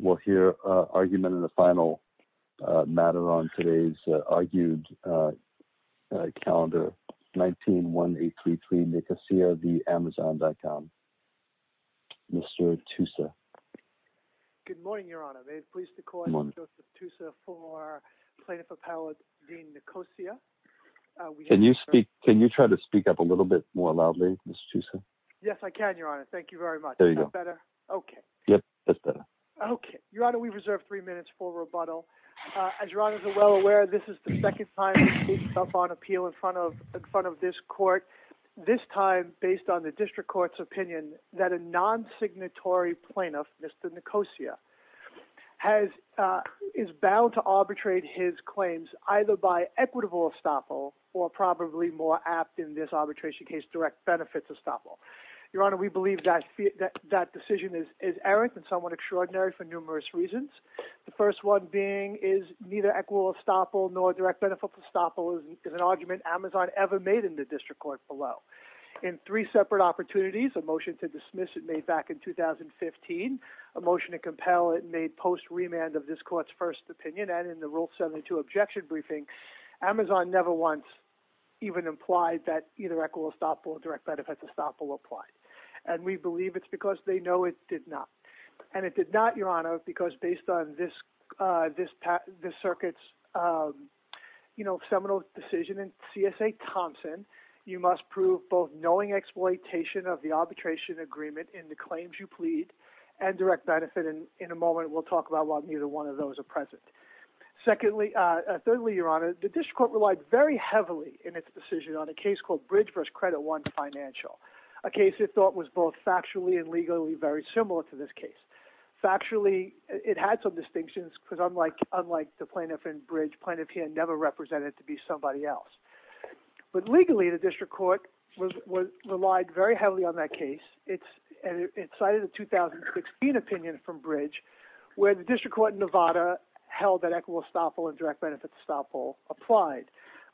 We'll hear argument in the final matter on today's argued calendar, 19-1833, Nicosia v. Amazon.com. Mr. Tussa. Good morning, Your Honor. May it please the Court, I'm Joseph Tussa for Plaintiff Appellate Dean Nicosia. Can you speak, can you try to speak up a little bit more loudly, Mr. Tussa? Yes, I can, Your Honor. Thank you very much. There you go. Is that better? Okay. Yep, that's better. Okay. Your Honor, we reserve three minutes for rebuttal. As Your Honor is well aware, this is the second time we speak up on appeal in front of this Court, this time based on the District Court's opinion that a non-signatory plaintiff, Mr. Nicosia, is bound to arbitrate his claims either by equitable estoppel or probably more apt in this arbitration case, direct benefits estoppel. Your Honor, we believe that decision is errant and somewhat extraordinary for numerous reasons. The first one being is neither equitable estoppel nor direct benefits estoppel is an argument Amazon ever made in the District Court below. In three separate opportunities, a motion to dismiss it made back in 2015, a motion to compel it made post-remand of this Court's first opinion, and in the Rule 72 objection briefing, Amazon never once even implied that either equitable estoppel or direct benefits estoppel applied. And we believe it's because they know it did not. And it did not, Your Honor, because based on this Circuit's, you know, seminal decision in CSA Thompson, you must prove both knowing exploitation of the arbitration agreement in the claims you plead and direct benefit, and in a moment we'll talk about why neither one of those are present. Secondly, thirdly, Your Honor, the District Court relied very heavily in its decision on a case called Bridge v. Credit One Financial, a case it thought was both factually and legally very similar to this case. Factually, it had some distinctions, because unlike the plaintiff in Bridge, plaintiff here never represented to be somebody else. But legally, the District Court relied very heavily on that case, and it cited a 2016 opinion from Bridge where the District Court in Nevada held that equitable estoppel and direct benefits estoppel applied.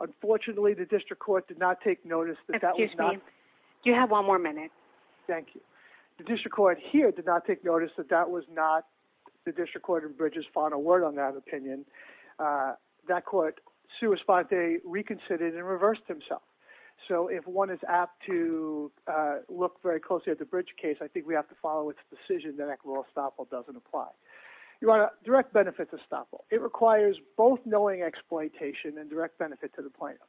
Unfortunately, the District Court did not take notice that that was not. Excuse me. You have one more minute. Thank you. The District Court here did not take notice that that was not the District Court in Bridge's final word on that opinion. That court, sua sponte, reconsidered and reversed himself. So if one is apt to look very closely at the Bridge case, I think we have to follow its decision that equitable estoppel doesn't apply. Your Honor, direct benefits estoppel. It requires both knowing exploitation and direct benefit to the plaintiff.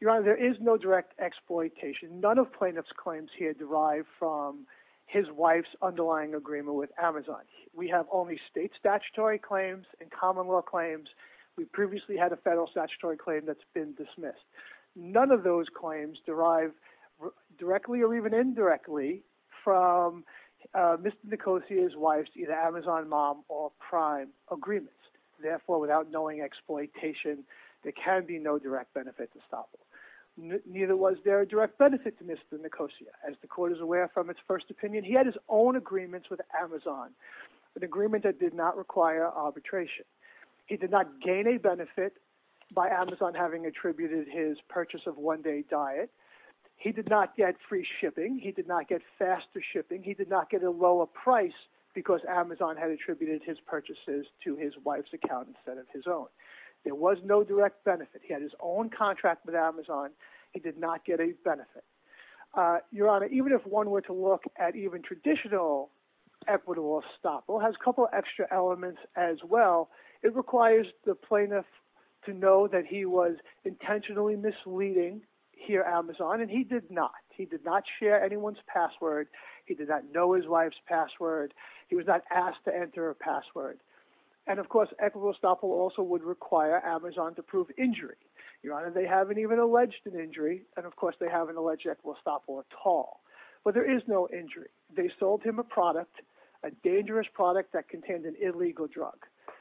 Your Honor, there is no direct exploitation. None of plaintiff's claims here derive from his wife's underlying agreement with Amazon. We have only state statutory claims and common law claims. We previously had a federal statutory claim that's been dismissed. None of those claims derive directly or even indirectly from Mr. Nicosia's wife's either Therefore, without knowing exploitation, there can be no direct benefit to estoppel. Neither was there a direct benefit to Mr. Nicosia. As the court is aware from its first opinion, he had his own agreements with Amazon, an agreement that did not require arbitration. He did not gain a benefit by Amazon having attributed his purchase of one-day diet. He did not get free shipping. He did not get faster shipping. He did not get a lower price because Amazon had attributed his purchases to his wife's account instead of his own. There was no direct benefit. He had his own contract with Amazon. He did not get a benefit. Your Honor, even if one were to look at even traditional equitable estoppel, it has a couple extra elements as well. It requires the plaintiff to know that he was intentionally misleading here at Amazon, and he did not. He did not share anyone's password. He did not know his wife's password. He was not asked to enter a password. And, of course, equitable estoppel also would require Amazon to prove injury. Your Honor, they haven't even alleged an injury, and, of course, they haven't alleged equitable estoppel at all. But there is no injury. They sold him a product, a dangerous product that contained an illegal drug,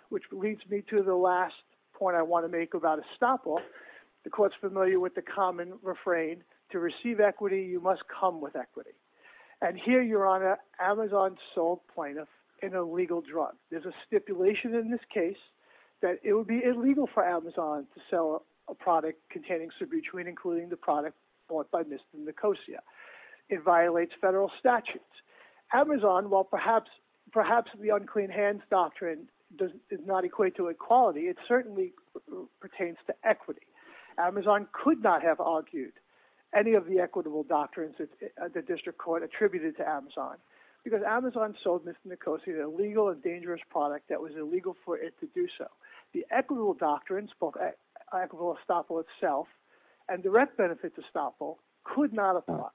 which leads me to the last point I want to make about estoppel. The court's familiar with the common refrain, to receive equity, you must come with equity. And here, Your Honor, Amazon sold plaintiff an illegal drug. There's a stipulation in this case that it would be illegal for Amazon to sell a product containing sobutuene, including the product bought by Mr. Nicosia. It violates federal statutes. Amazon, while perhaps the unclean hands doctrine does not equate to equality, it certainly pertains to equity. Amazon could not have argued any of the equitable doctrines that the district court attributed to Amazon, because Amazon sold Mr. Nicosia an illegal and dangerous product that was illegal for it to do so. The equitable doctrines, both equitable estoppel itself and direct benefit to estoppel, could not apply.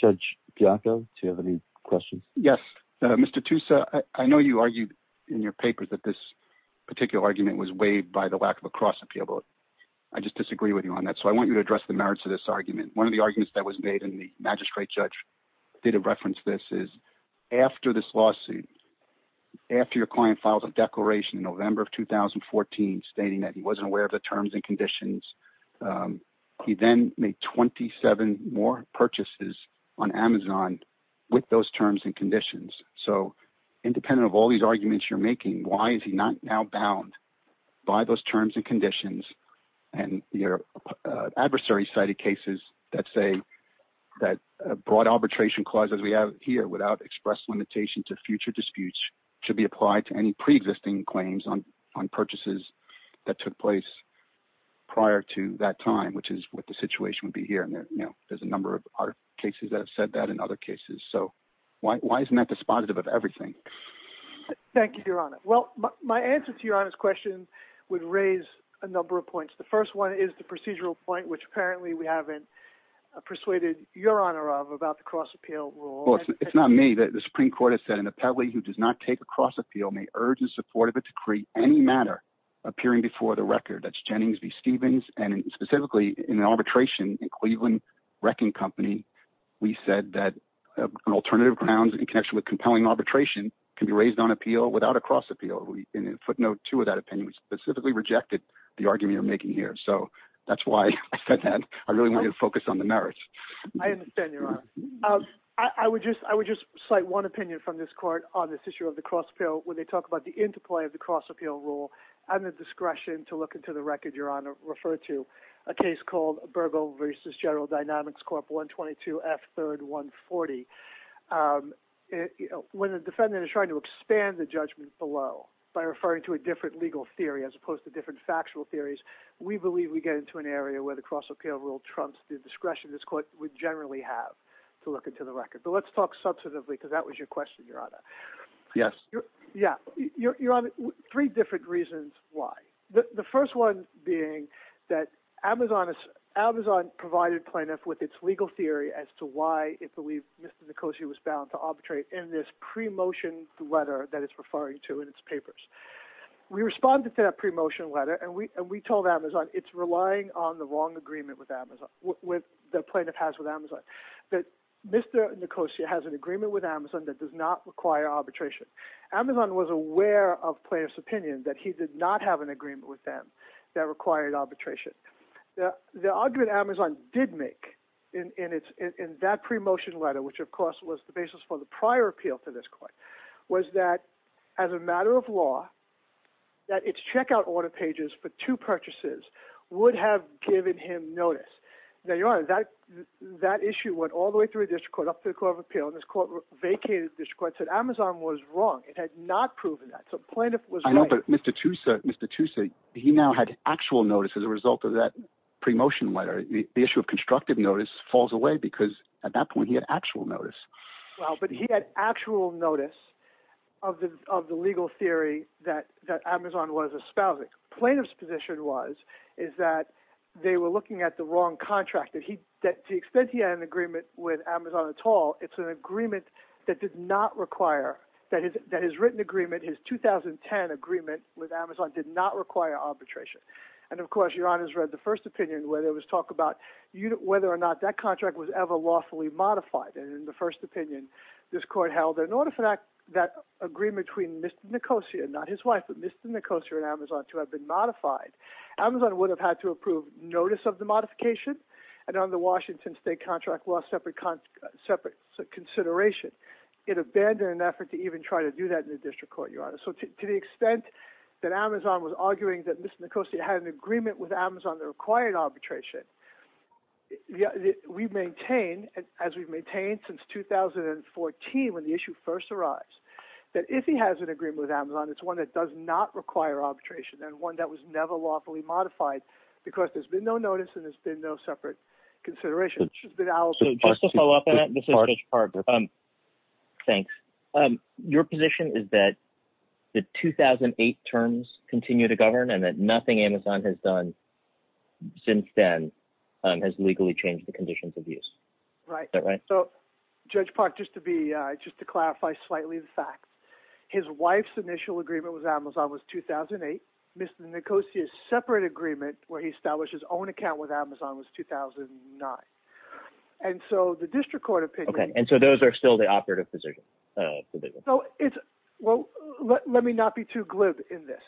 Judge Bianco, do you have any questions? Yes. Mr. Tussa, I know you argued in your papers that this particular argument was weighed by the lack of a cross-appeal vote. I just disagree with you on that. So I want you to address the merits of this argument. One of the arguments that was made, and the magistrate judge did reference this, is after this lawsuit, after your client filed a declaration in November of 2014 stating that he wasn't aware of the terms and conditions, he then made 27 more purchases on Amazon with those terms and conditions. So independent of all these arguments you're making, why is he not now bound by those terms and conditions and your adversary-cited cases that say that broad arbitration clauses we have here without express limitation to future disputes should be applied to any pre-existing claims on purchases that took place prior to that time, which is what the situation would be here. And there's a number of other cases that have said that and other cases. So why isn't that despotitive of everything? Thank you, Your Honor. Well, my answer to Your Honor's question would raise a number of points. The first one is the procedural point, which apparently we haven't persuaded Your Honor of about the cross-appeal rule. Well, it's not me. The Supreme Court has said, an appellee who does not take a cross-appeal may urge the support of a decree in any manner appearing before the record. That's Jennings v. Stevens, and specifically in arbitration in Cleveland Wrecking Company, has done appeal without a cross-appeal. And in footnote two of that opinion, we specifically rejected the argument you're making here. So that's why I said that. I really wanted to focus on the merits. I understand, Your Honor. I would just cite one opinion from this Court on this issue of the cross-appeal when they talk about the interplay of the cross-appeal rule and the discretion to look into the record Your Honor referred to, a case called Bergo v. General Dynamics Corp. 122 F. 3rd 140. When the defendant is trying to expand the judgment below by referring to a different legal theory as opposed to different factual theories, we believe we get into an area where the cross-appeal rule trumps the discretion this Court would generally have to look into the record. But let's talk substantively, because that was your question, Your Honor. Yes. Yeah. Your Honor, three different reasons why. The first one being that Amazon provided plaintiff with its legal theory as to why it believed Mr. Nicosia was bound to arbitrate in this pre-motion letter that it's referring to in its papers. We responded to that pre-motion letter, and we told Amazon it's relying on the wrong agreement with Amazon, with the plaintiff has with Amazon, that Mr. Nicosia has an agreement with Amazon that does not require arbitration. Amazon was aware of plaintiff's opinion that he did not have an agreement with them that required arbitration. The argument Amazon did make in that pre-motion letter, which of course was the basis for the prior appeal to this Court, was that as a matter of law, that its checkout order pages for two purchases would have given him notice. Now, Your Honor, that issue went all the way through a district court, up to the Court of Appeal, and this Court vacated the district court, said Amazon was wrong, it had not proven that. So plaintiff was right. I know, but Mr. Nicosia, he now had actual notice as a result of that pre-motion letter. The issue of constructive notice falls away, because at that point he had actual notice. Well, but he had actual notice of the legal theory that Amazon was espousing. Plaintiff's position was, is that they were looking at the wrong contract, that to the extent he had an agreement with Amazon at all, it's an agreement that did not require, that his written agreement, his 2010 agreement with Amazon did not require arbitration. And of course, Your Honor's read the first opinion, where there was talk about whether or not that contract was ever lawfully modified. And in the first opinion, this Court held that in order for that agreement between Mr. Nicosia, not his wife, but Mr. Nicosia and Amazon, to have been modified, Amazon would have had to approve notice of the modification, and on the Washington state contract law, separate consideration. It abandoned an effort to even try to do that in the district court, Your Honor. So to the extent that Amazon was arguing that Mr. Nicosia had an agreement with Amazon that required arbitration, we maintain, as we've maintained since 2014 when the issue first arrived, that if he has an agreement with Amazon, it's one that does not require arbitration, and one that was never lawfully modified, because there's been no notice and there's been no separate consideration. So just to follow up on that, this is Judge Parker. Thanks. Your position is that the 2008 terms continue to govern, and that nothing Amazon has done since then has legally changed the conditions of use. Right. Is that right? So, Judge Parker, just to clarify slightly the facts, his wife's initial agreement with Amazon was 2008, Mr. Nicosia's separate agreement where he established his own account with Amazon, and so the district court opinion- Okay. And so those are still the operative positions. Well, let me not be too glib in this.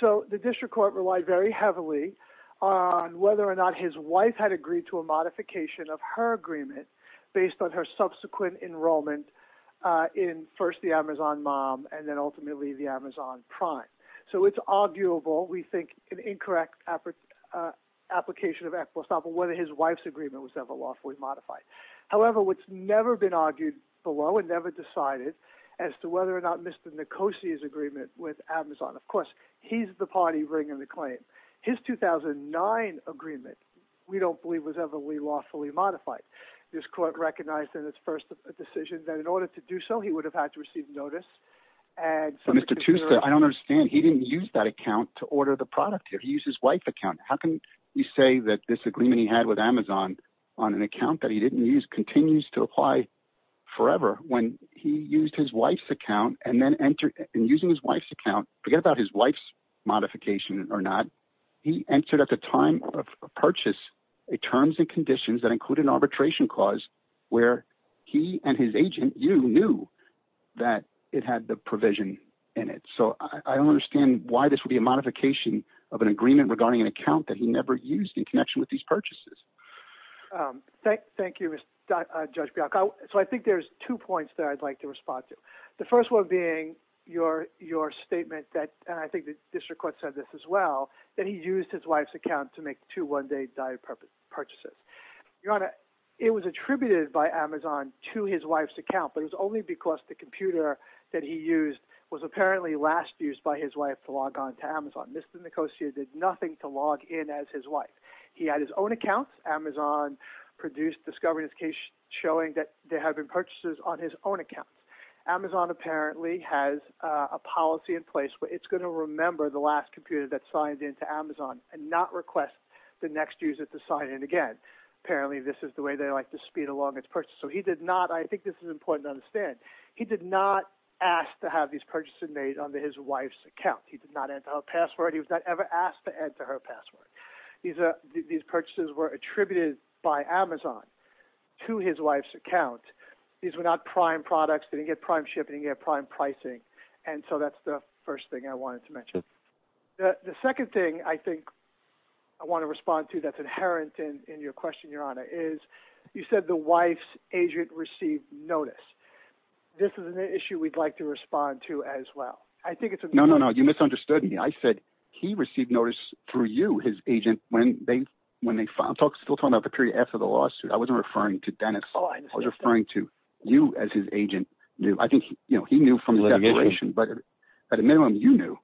So the district court relied very heavily on whether or not his wife had agreed to a modification of her agreement based on her subsequent enrollment in, first, the Amazon mom, and then ultimately the Amazon prime. So it's arguable, we think, an incorrect application of Equestable whether his wife's agreement was ever lawfully modified. However, what's never been argued below and never decided as to whether or not Mr. Nicosia's agreement with Amazon... Of course, he's the party bringing the claim. His 2009 agreement, we don't believe, was ever lawfully modified. This court recognized in its first decision that in order to do so, he would have had to receive notice, and- But Mr. Tusa, I don't understand. He didn't use that account to order the product here. He used his wife's account. How can you say that this agreement he had with Amazon on an account that he didn't use continues to apply forever when he used his wife's account and then entered... In using his wife's account, forget about his wife's modification or not, he entered at the time of purchase a terms and conditions that included an arbitration clause where he and his agent, you, knew that it had the provision in it. I don't understand why this would be a modification of an agreement regarding an account that he never used in connection with these purchases. Thank you, Judge Bialko. I think there's two points that I'd like to respond to. The first one being your statement that, and I think the district court said this as well, that he used his wife's account to make two one-day diet purchases. It was attributed by Amazon to his wife's account, but it was only because the computer that he used was apparently last used by his wife to log on to Amazon. Mr. Nicosia did nothing to log in as his wife. He had his own account. Amazon produced discovery showing that there had been purchases on his own account. Amazon apparently has a policy in place where it's going to remember the last computer that signed into Amazon and not request the next user to sign in again. Apparently, this is the way they like to speed along its purchase. I think this is important to understand. He did not ask to have these purchases made onto his wife's account. He did not enter her password. He was not ever asked to enter her password. These purchases were attributed by Amazon to his wife's account. These were not prime products. They didn't get prime shipping. They didn't get prime pricing. That's the first thing I wanted to mention. The second thing I think I want to respond to that's inherent in your question, Your Honor, is you said the wife's agent received notice. This is an issue we'd like to respond to as well. I think it's- No, no, no. You misunderstood me. I said he received notice through you, his agent, when they filed. I'm still talking about the period after the lawsuit. I wasn't referring to Dennis. I was referring to you as his agent. I think he knew from the declaration. But at a minimum, you knew.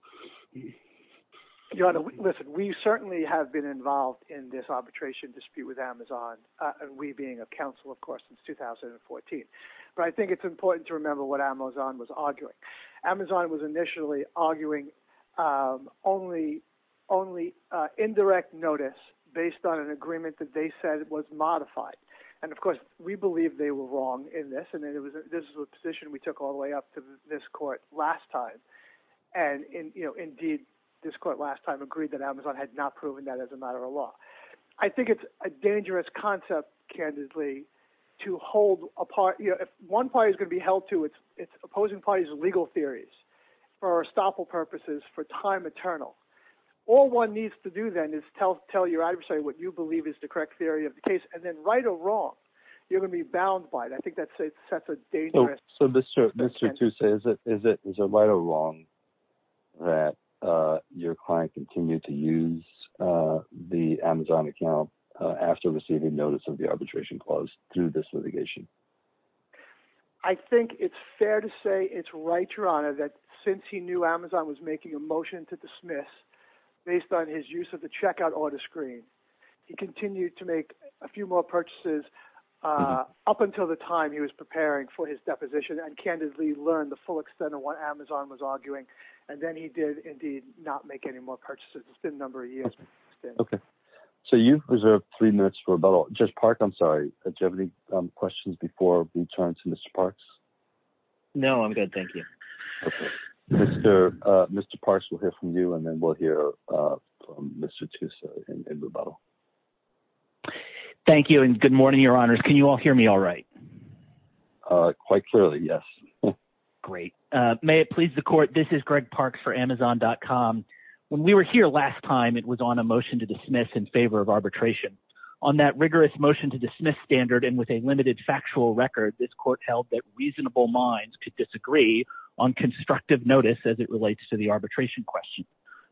Your Honor, listen, we certainly have been involved in this arbitration dispute with Amazon and we being a counsel, of course, since 2014. But I think it's important to remember what Amazon was arguing. Amazon was initially arguing only indirect notice based on an agreement that they said was modified. And of course, we believe they were wrong in this. And this is a position we took all the way up to this court last time. And indeed, this court last time agreed that Amazon had not proven that as a matter of law. I think it's a dangerous concept, candidly, to hold a party- If one party is going to be held to its opposing party's legal theories for estoppel purposes, for time eternal, all one needs to do then is tell your adversary what you believe is the correct theory of the case. And then right or wrong, you're going to be bound by it. I think that's a dangerous- So Mr. Toussaint, is it right or wrong that your client continued to use the Amazon account after receiving notice of the arbitration clause through this litigation? I think it's fair to say it's right, Your Honor, that since he knew Amazon was making a motion to dismiss based on his use of the checkout order screen, he continued to make a few more purchases up until the time he was preparing for his deposition, and candidly learned the full extent of what Amazon was arguing. And then he did indeed not make any more purchases. It's been a number of years. Okay. So you've reserved three minutes for rebuttal. Judge Park, I'm sorry, did you have any questions before we turn to Mr. Parks? No, I'm good, thank you. Mr. Parks, we'll hear from you, and then we'll hear from Mr. Toussaint in rebuttal. Thank you, and good morning, Your Honors. Can you all hear me all right? Quite clearly, yes. Great. May it please the Court, this is Greg Parks for Amazon.com. When we were here last time, it was on a motion to dismiss in favor of arbitration. On that rigorous motion to dismiss standard, and with a limited factual record, this Court held that reasonable minds could disagree on constructive notice as it relates to the arbitration question.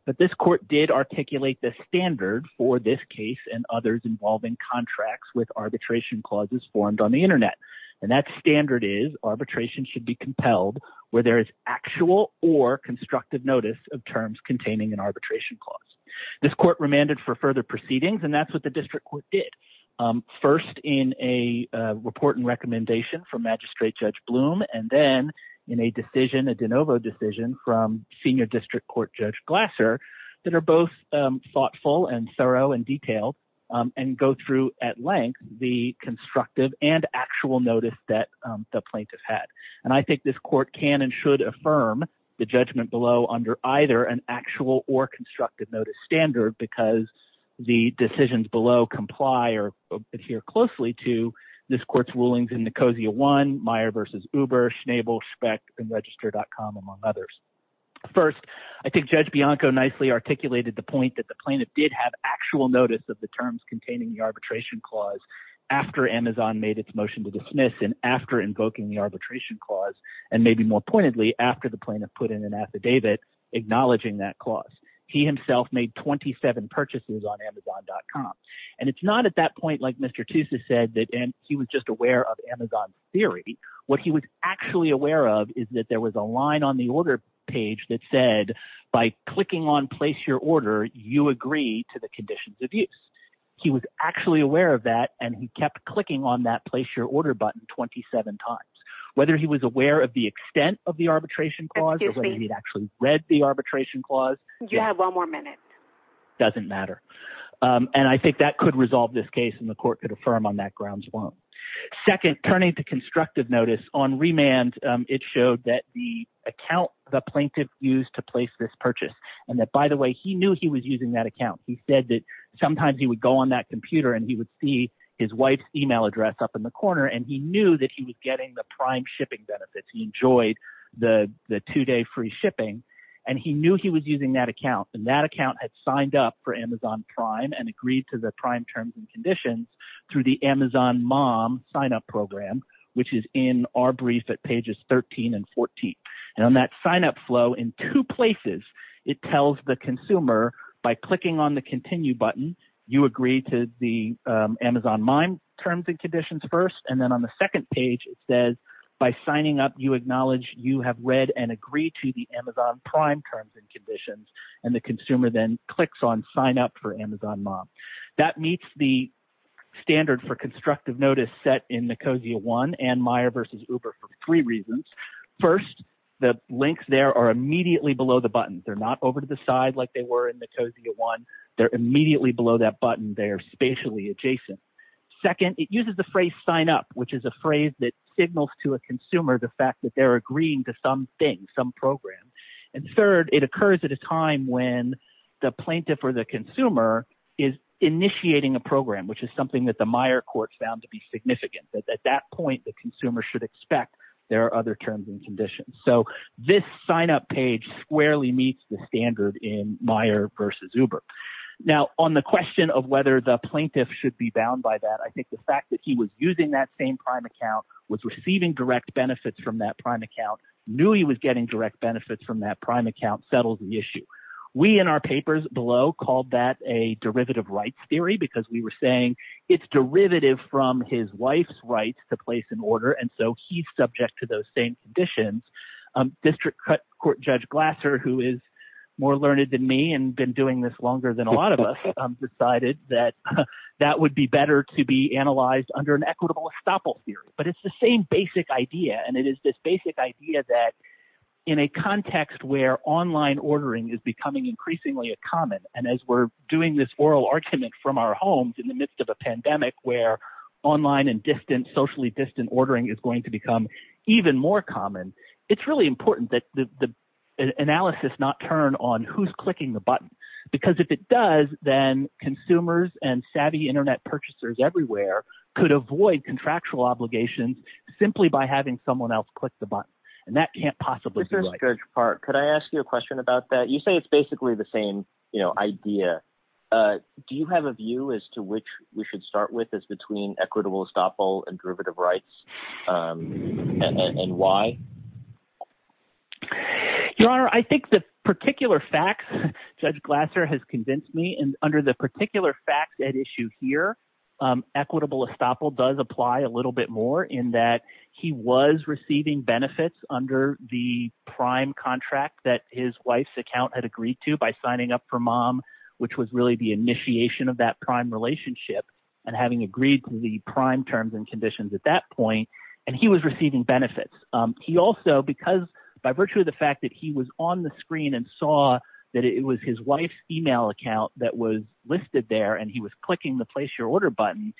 But this Court did articulate the standard for this case and others involving contracts with arbitration clauses formed on the Internet. And that standard is arbitration should be compelled where there is actual or constructive notice of terms containing an arbitration clause. This Court remanded for further proceedings, and that's what the District Court did. First, in a report and recommendation from Magistrate Judge Bloom, and then in a decision, a de novo decision from Senior District Court Judge Glasser, that are both thoughtful and thorough and detailed, and go through at length the constructive and actual notice that the plaintiff had. And I think this Court can and should affirm the judgment below under either an actual or constructive notice standard because the decisions below comply or adhere closely to this Court's rulings in Nicosia 1, Meyer v. Uber, Schnabel, Speck, and Register.com, among others. First, I think Judge Bianco nicely articulated the point that the plaintiff did have actual notice of the terms containing the arbitration clause after Amazon made its motion to dismiss and after invoking the arbitration clause, and maybe more pointedly, after the plaintiff put in an affidavit acknowledging that clause. He himself made 27 purchases on Amazon.com. And it's not at that point, like Mr. Tusa said, that he was just aware of Amazon's theory. What he was actually aware of is that there was a line on the order page that said, by clicking on place your order, you agree to the conditions of use. He was actually aware of that, and he kept clicking on that place your order button 27 times. Whether he was aware of the extent of the arbitration clause or whether he'd actually read the arbitration clause. You have one more minute. Doesn't matter. And I think that could resolve this case and the court could affirm on that grounds won't. Second, turning to constructive notice, on remand, it showed that the account the plaintiff used to place this purchase, and that by the way, he knew he was using that account. He said that sometimes he would go on that computer and he would see his wife's email address up in the corner, and he knew that he was getting the prime shipping benefits. He enjoyed the two-day free shipping, and he knew he was using that account. And that account had signed up for Amazon Prime and agreed to the prime terms and conditions through the Amazon Mom signup program, which is in our brief at pages 13 and 14. And on that signup flow in two places, it tells the consumer by clicking on the continue button, you agree to the Amazon Mime terms and conditions first, and then on the second page, it says by signing up, you acknowledge you have read and agree to the Amazon Prime terms and conditions, and the consumer then clicks on sign up for Amazon Mom. That meets the standard for constructive notice set in Nicosia One and Meijer versus Uber for three reasons. First, the links there are immediately below the button. They're not over to the side like they were in Nicosia One. They're immediately below that button. They're spatially adjacent. Second, it uses the phrase sign up, which is a phrase that signals to a consumer the fact that they're agreeing to some thing, some program. And third, it occurs at a time when the plaintiff or the consumer is initiating a program, which is something that the Meijer court found to be significant. At that point, the consumer should expect there are other terms and conditions. So this signup page squarely meets the standard in Meijer versus Uber. Now, on the question of whether the plaintiff should be bound by that, I think the fact that he was using that same prime account, was receiving direct benefits from that prime account, knew he was getting direct benefits from that prime account, settles the issue. We in our papers below called that a derivative rights theory because we were saying it's derivative from his wife's rights to place an order. And so he's subject to those same conditions. District Court Judge Glasser, who is more learned than me and been doing this longer than a lot of us, decided that that would be better to be analyzed under an equitable estoppel theory. But it's the same basic idea, and it is this basic idea that in a context where online ordering is becoming increasingly a common, and as we're doing this oral argument from our homes in the midst of a pandemic where online and socially distant ordering is going to become even more common, it's really important that the analysis not turn on who's clicking the button. Because if it does, then consumers and savvy internet purchasers everywhere could avoid contractual obligations simply by having someone else click the button. And that can't possibly be right. Judge Park, could I ask you a question about that? You say it's basically the same idea. Do you have a view as to which we should start with as between equitable estoppel and derivative rights and why? Your Honor, I think the particular facts Judge Glasser has convinced me, and under the in that he was receiving benefits under the prime contract that his wife's account had agreed to by signing up for MOM, which was really the initiation of that prime relationship and having agreed to the prime terms and conditions at that point. And he was receiving benefits. He also, because by virtue of the fact that he was on the screen and saw that it was his wife's email account that was listed there and he was clicking the place your order button,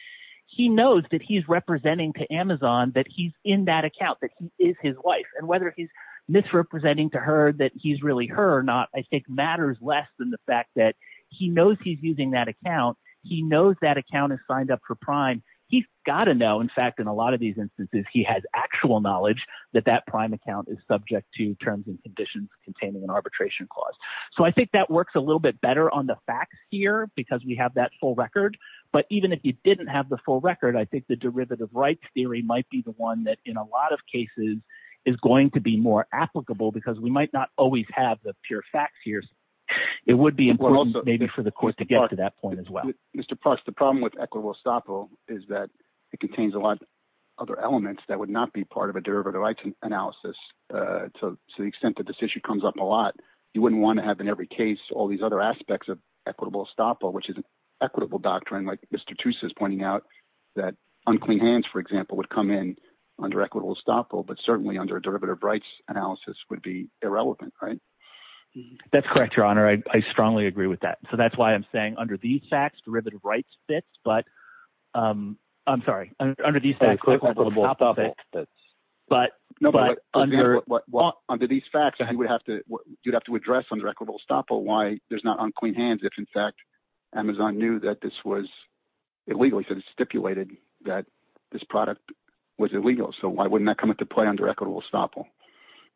he knows that he's representing to Amazon that he's in that account, that he is his wife. And whether he's misrepresenting to her that he's really her or not, I think matters less than the fact that he knows he's using that account. He knows that account is signed up for prime. He's got to know, in fact, in a lot of these instances, he has actual knowledge that that prime account is subject to terms and conditions containing an arbitration clause. So I think that works a little bit better on the facts here because we have that full record. But even if you didn't have the full record, I think the derivative rights theory might be the one that in a lot of cases is going to be more applicable because we might not always have the pure facts here. It would be important maybe for the court to get to that point as well. Mr. Parks, the problem with equitable estoppel is that it contains a lot of other elements that would not be part of a derivative rights analysis to the extent that this issue comes up a lot. You wouldn't want to have in every case all these other aspects of equitable estoppel, which is an equitable doctrine, like Mr. Toose is pointing out, that unclean hands, for example, would come in under equitable estoppel, but certainly under a derivative rights analysis would be irrelevant, right? That's correct, Your Honor. I strongly agree with that. So that's why I'm saying under these facts, derivative rights fits. But I'm sorry. Under these facts, equitable estoppel fits. No, but under these facts, you'd have to address under equitable estoppel why there's not unclean hands if, in fact, Amazon knew that this was illegally stipulated that this product was illegal. So why wouldn't that come into play under equitable estoppel?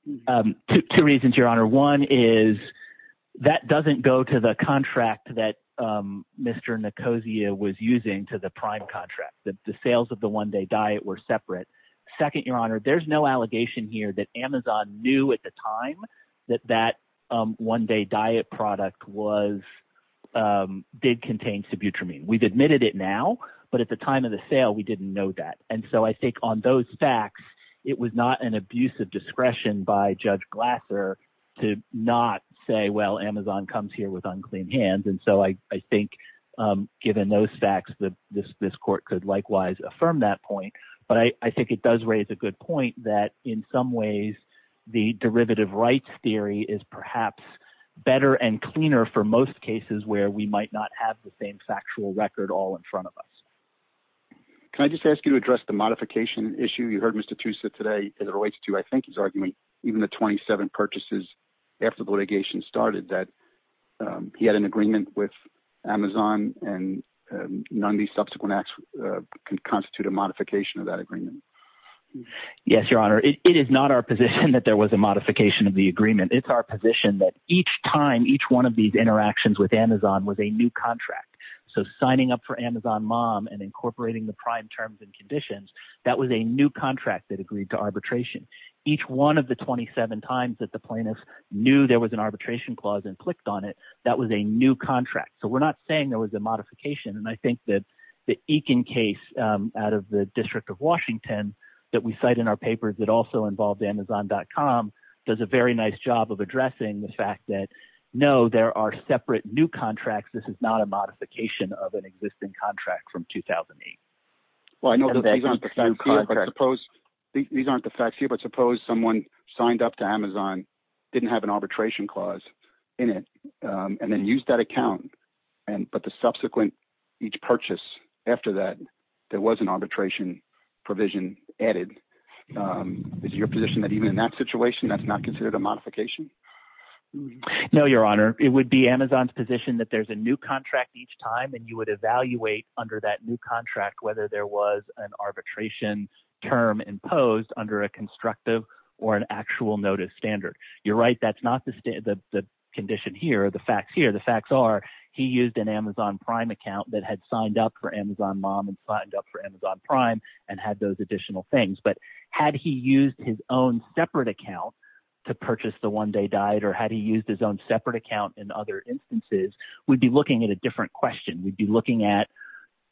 Two reasons, Your Honor. One is that doesn't go to the contract that Mr. Nicosia was using to the prime contract. The sales of the one-day diet were separate. Second, Your Honor, there's no allegation here that Amazon knew at the time that that one-day diet product did contain subutramine. We've admitted it now, but at the time of the sale, we didn't know that. And so I think on those facts, it was not an abuse of discretion by Judge Glasser to not say, well, Amazon comes here with unclean hands. And so I think, given those facts, this court could likewise affirm that point. But I think it does raise a good point that, in some ways, the derivative rights theory is perhaps better and cleaner for most cases where we might not have the same factual record all in front of us. Can I just ask you to address the modification issue? You heard Mr. Tusa today as it relates to, I think, his argument, even the 27 purchases after the litigation started, that he had an agreement with Amazon and none of these subsequent acts can constitute a modification of that agreement. Yes, Your Honor. It is not our position that there was a modification of the agreement. It's our position that each time, each one of these interactions with Amazon was a new contract. So signing up for Amazon Mom and incorporating the prime terms and conditions, that was a new contract that agreed to arbitration. Each one of the 27 times that the plaintiffs knew there was an arbitration clause and clicked on it, that was a new contract. So we're not saying there was a modification. And I think that the Eakin case out of the District of Washington that we cite in our does a very nice job of addressing the fact that, no, there are separate new contracts. This is not a modification of an existing contract from 2008. Well, I know these aren't the facts here, but suppose someone signed up to Amazon, didn't have an arbitration clause in it, and then used that account, but the subsequent each purchase after that, there was an arbitration provision added. Is your position that even in that situation, that's not considered a modification? No, Your Honor. It would be Amazon's position that there's a new contract each time, and you would evaluate under that new contract whether there was an arbitration term imposed under a constructive or an actual notice standard. You're right. That's not the condition here. The facts here, the facts are he used an Amazon Prime account that had signed up for Amazon Mom and signed up for Amazon Prime and had those additional things. Had he used his own separate account to purchase the One Day Diet or had he used his own separate account in other instances, we'd be looking at a different question. We'd be looking at,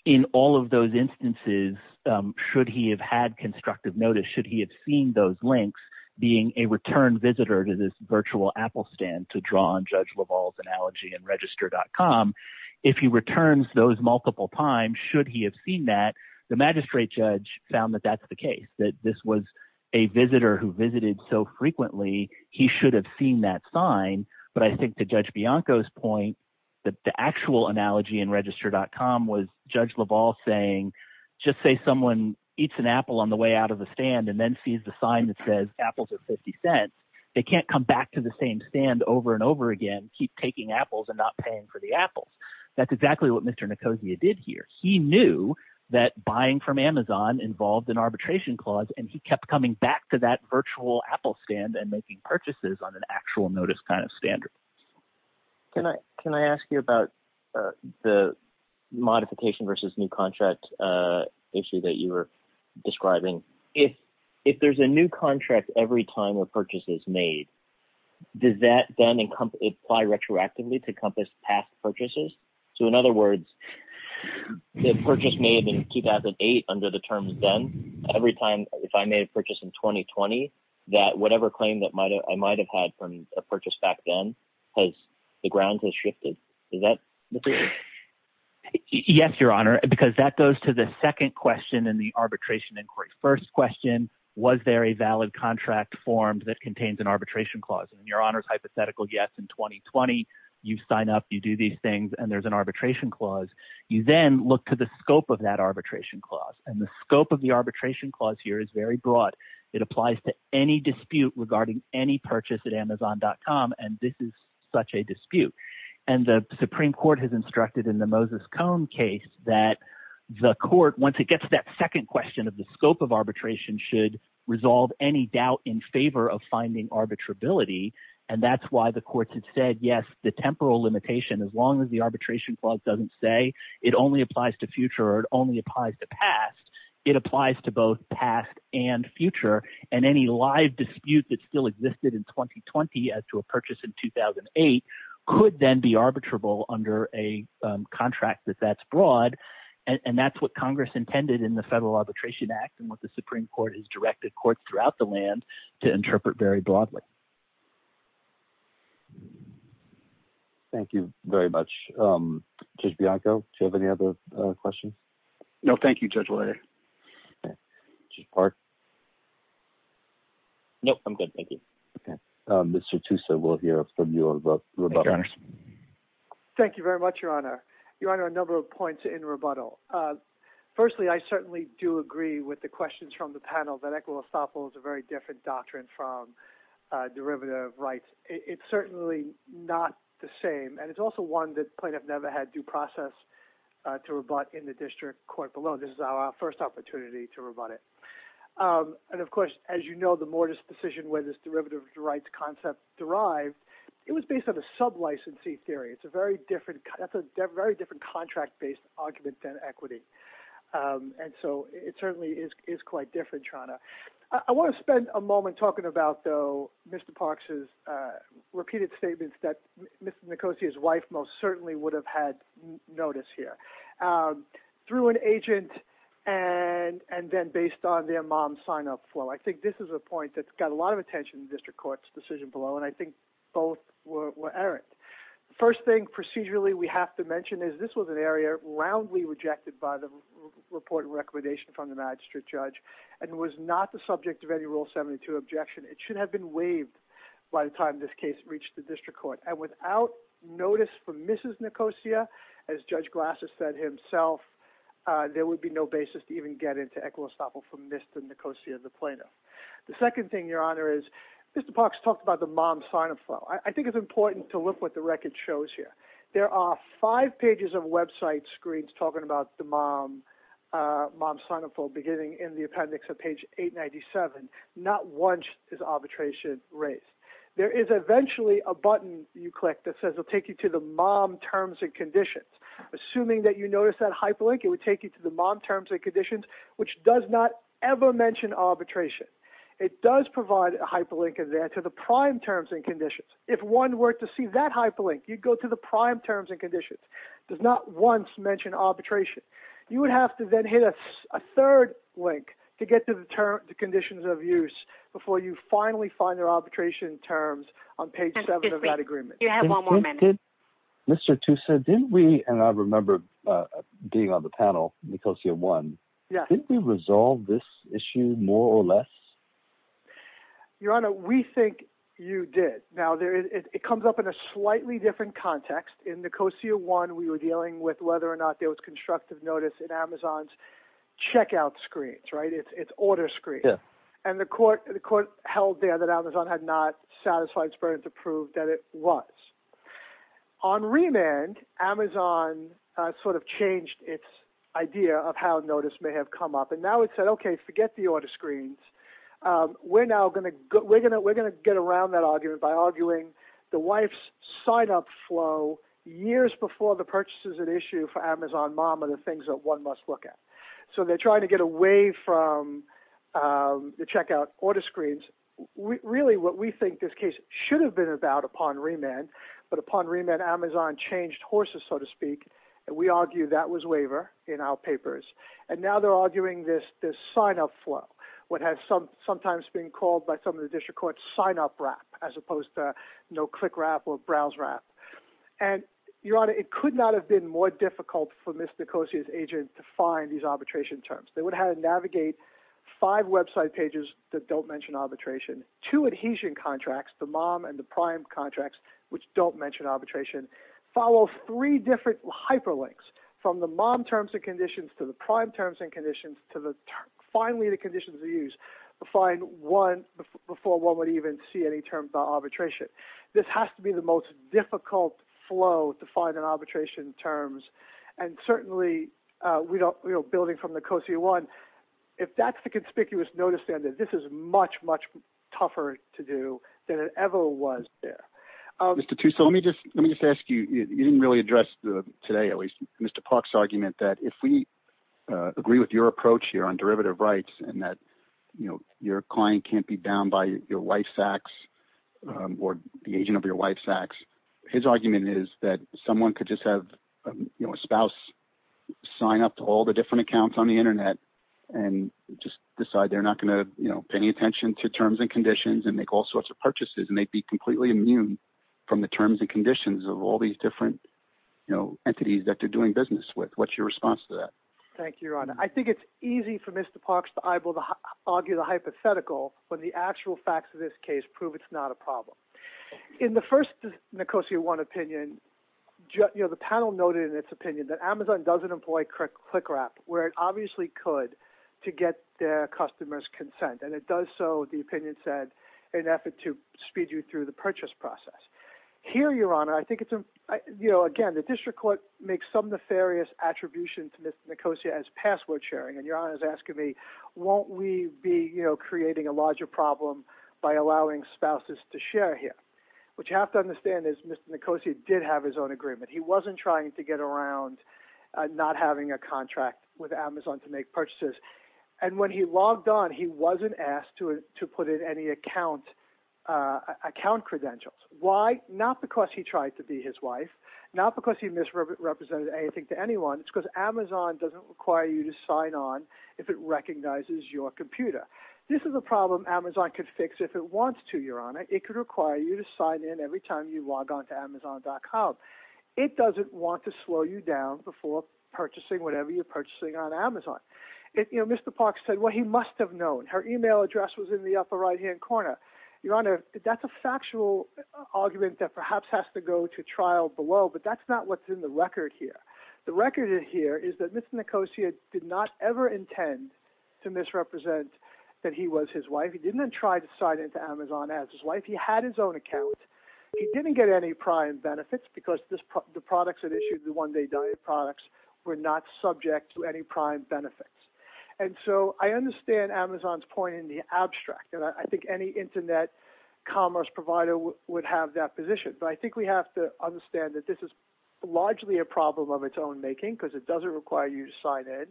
in all of those instances, should he have had constructive notice? Should he have seen those links being a return visitor to this virtual Apple stand to draw on Judge LaValle's analogy and register.com? If he returns those multiple times, should he have seen that? The magistrate judge found that that's the case, that this was a visitor who visited so frequently, he should have seen that sign. But I think to Judge Bianco's point, the actual analogy in register.com was Judge LaValle saying, just say someone eats an apple on the way out of the stand and then sees the sign that says apples are 50 cents. They can't come back to the same stand over and over again, keep taking apples and not paying for the apples. That's exactly what Mr. Nicosia did here. He knew that buying from Amazon involved an arbitration clause, and he kept coming back to that virtual Apple stand and making purchases on an actual notice kind of standard. Can I ask you about the modification versus new contract issue that you were describing? If there's a new contract every time a purchase is made, does that then apply retroactively to encompass past purchases? So in other words, the purchase may have been 2008 under the terms then. Every time, if I made a purchase in 2020, that whatever claim that I might have had from a purchase back then, the ground has shifted. Is that the case? Yes, Your Honor, because that goes to the second question in the arbitration inquiry. First question, was there a valid contract formed that contains an arbitration clause? Your Honor's hypothetical, yes. In 2020, you sign up, you do these things, and there's an arbitration clause. You then look to the scope of that arbitration clause, and the scope of the arbitration clause here is very broad. It applies to any dispute regarding any purchase at Amazon.com, and this is such a dispute. The Supreme Court has instructed in the Moses Cone case that the court, once it gets to that second question of the scope of arbitration, should resolve any doubt in favor of finding arbitrability, and that's why the courts have said, yes, the temporal limitation, as long as the arbitration clause doesn't say it only applies to future or it only applies to past, it applies to both past and future, and any live dispute that still existed in 2020 as to a purchase in 2008 could then be arbitrable under a contract that that's broad, and that's what Congress intended in the Federal Arbitration Act and what the Supreme Court has directed courts throughout the land to interpret very broadly. Thank you very much. Judge Bianco, do you have any other questions? No. Thank you, Judge Lawyer. Judge Park? No. I'm good. Thank you. Okay. Mr. Tussa, we'll hear from you about rebuttals. Thank you very much, Your Honor. Your Honor, a number of points in rebuttal. Firstly, I certainly do agree with the questions from the panel that equitable estoppel is a very different doctrine from derivative rights. It's certainly not the same, and it's also one that plaintiff never had due process to rebut in the district court below. This is our first opportunity to rebut it. And, of course, as you know, the Mortis decision where this derivative rights concept derived, it was based on a sub-licensee theory. It's a very different—that's a very different contract-based argument than equity. And so it certainly is quite different, Your Honor. I want to spend a moment talking about, though, Mr. Parks's repeated statements that Ms. Nicosia's wife most certainly would have had notice here through an agent and then based on their mom's sign-up flow. I think this is a point that's got a lot of attention in the district court's decision below, and I think both were errant. The first thing procedurally we have to mention is this was an area roundly rejected by the report and recommendation from the magistrate judge and was not the subject of any Rule 72 objection. It should have been waived by the time this case reached the district court. And without notice from Mrs. Nicosia, as Judge Glasser said himself, there would be no basis to even get into equitable estoppel from Mr. Nicosia, the plaintiff. The second thing, Your Honor, is Mr. Parks talked about the mom's sign-up flow. I think it's important to look what the record shows here. There are five pages of website screens talking about the mom's sign-up flow beginning in the appendix of page 897. Not once is arbitration raised. There is eventually a button you click that says it will take you to the mom terms and conditions. Assuming that you notice that hyperlink, it would take you to the mom terms and conditions, which does not ever mention arbitration. It does provide a hyperlink to the prime terms and conditions. If one were to see that hyperlink, you'd go to the prime terms and conditions. It does not once mention arbitration. You would have to then hit a third link to get to the conditions of use before you finally find their arbitration terms on page 7 of that agreement. You have one more minute. Mr. Toussaint, didn't we, and I remember being on the panel, Nicosia 1, didn't we resolve this issue more or less? Your Honor, we think you did. Now, it comes up in a slightly different context. In Nicosia 1, we were dealing with whether or not there was constructive notice in Amazon's checkout screens, right? It's order screens. And the court held there that Amazon had not satisfied its burden to prove that it was. On remand, Amazon sort of changed its idea of how notice may have come up. Now, it said, OK, forget the order screens. We're now going to get around that argument by arguing the wife's sign-up flow years before the purchase is an issue for Amazon mom are the things that one must look at. So they're trying to get away from the checkout order screens. Really, what we think this case should have been about upon remand, but upon remand, Amazon changed horses, so to speak. We argue that was waiver in our papers. And now they're arguing this sign-up flow, what has sometimes been called by some of the district courts sign-up wrap, as opposed to no-click wrap or browse wrap. And, Your Honor, it could not have been more difficult for Ms. Nicosia's agent to find these arbitration terms. They would have to navigate five website pages that don't mention arbitration, two adhesion contracts, the mom and the prime contracts, which don't mention arbitration, follow three different hyperlinks from the mom terms and conditions to the prime terms and conditions to finally the conditions they use to find one before one would even see any terms about arbitration. This has to be the most difficult flow to find an arbitration terms. And certainly, building from Nicosia 1, if that's the conspicuous notice, then this is much, much tougher to do than it ever was there. Mr. Tuso, let me just ask you, you didn't really address today, at least, Mr. Park's argument that if we agree with your approach here on derivative rights and that your client can't be bound by your life sacks or the agent of your life sacks, his argument is that someone could just have a spouse sign up to all the different accounts on the internet and just decide they're not going to pay any attention to terms and conditions and make all sorts of purchases and they'd be completely immune from the terms and conditions of all these different entities that they're doing business with. What's your response to that? Thank you, Your Honor. I think it's easy for Mr. Parks to argue the hypothetical when the actual facts of this case prove it's not a problem. In the first Nicosia 1 opinion, the panel noted in its opinion that Amazon doesn't employ click wrap where it obviously could to get their customers' consent. It does so, the opinion said, in an effort to speed you through the purchase process. Here, Your Honor, I think it's... Again, the district court makes some nefarious attribution to Mr. Nicosia as password sharing. Your Honor is asking me, won't we be creating a larger problem by allowing spouses to share here? What you have to understand is Mr. Nicosia did have his own agreement. He wasn't trying to get around not having a contract with Amazon to make purchases. When he logged on, he wasn't asked to put in any account credentials. Why? Not because he tried to be his wife. Not because he misrepresented anything to anyone. It's because Amazon doesn't require you to sign on if it recognizes your computer. This is a problem Amazon could fix if it wants to, Your Honor. It could require you to sign in every time you log on to Amazon.com. It doesn't want to slow you down before purchasing whatever you're purchasing on Amazon. Mr. Parks said what he must have known. Her email address was in the upper right-hand corner. Your Honor, that's a factual argument that perhaps has to go to trial below, but that's not what's in the record here. The record here is that Mr. Nicosia did not ever intend to misrepresent that he was his wife. He didn't try to sign into Amazon as his wife. He had his own account. He didn't get any prime benefits because the products that issued, the one-day diet products, were not subject to any prime benefits. And so I understand Amazon's point in the abstract, and I think any internet commerce provider would have that position. But I think we have to understand that this is largely a problem of its own making because it doesn't require you to sign in.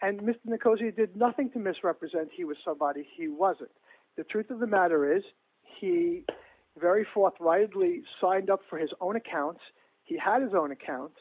And Mr. Nicosia did nothing to misrepresent he was somebody he wasn't. The truth of the matter is he very forthrightly signed up for his own account. He had his own account.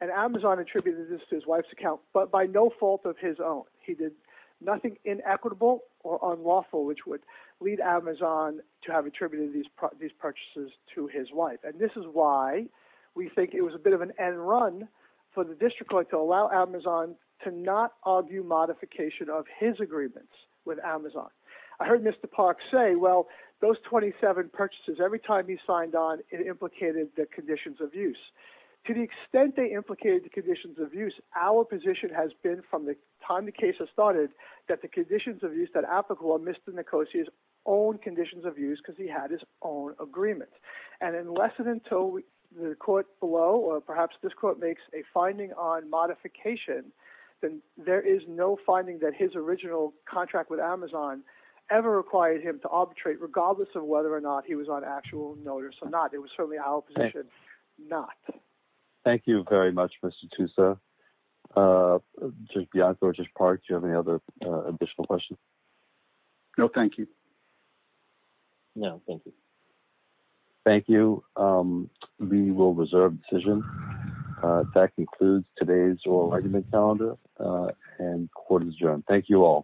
And Amazon attributed this to his wife's account, but by no fault of his own. He did nothing inequitable or unlawful, which would lead Amazon to have attributed these purchases to his wife. And this is why we think it was a bit of an end run for the district court to allow Amazon to not argue modification of his agreements with Amazon. I heard Mr. Parks say, well, those 27 purchases, every time he signed on, it implicated the conditions of use. To the extent they implicated the conditions of use, our position has been from the time the case has started that the conditions of use that applicable are Mr. Nicosia's own conditions of use because he had his own agreement. And unless and until the court below, or perhaps this court makes a finding on modification, then there is no finding that his original contract with Amazon ever required him to arbitrate, regardless of whether or not he was on actual notice or not. It was certainly our position not. Thank you very much, Mr. Tusa. Judge Bianco, Judge Parks, do you have any other additional questions? No, thank you. No, thank you. Thank you. We will reserve the decision. That concludes today's oral argument calendar and court is adjourned. Thank you all.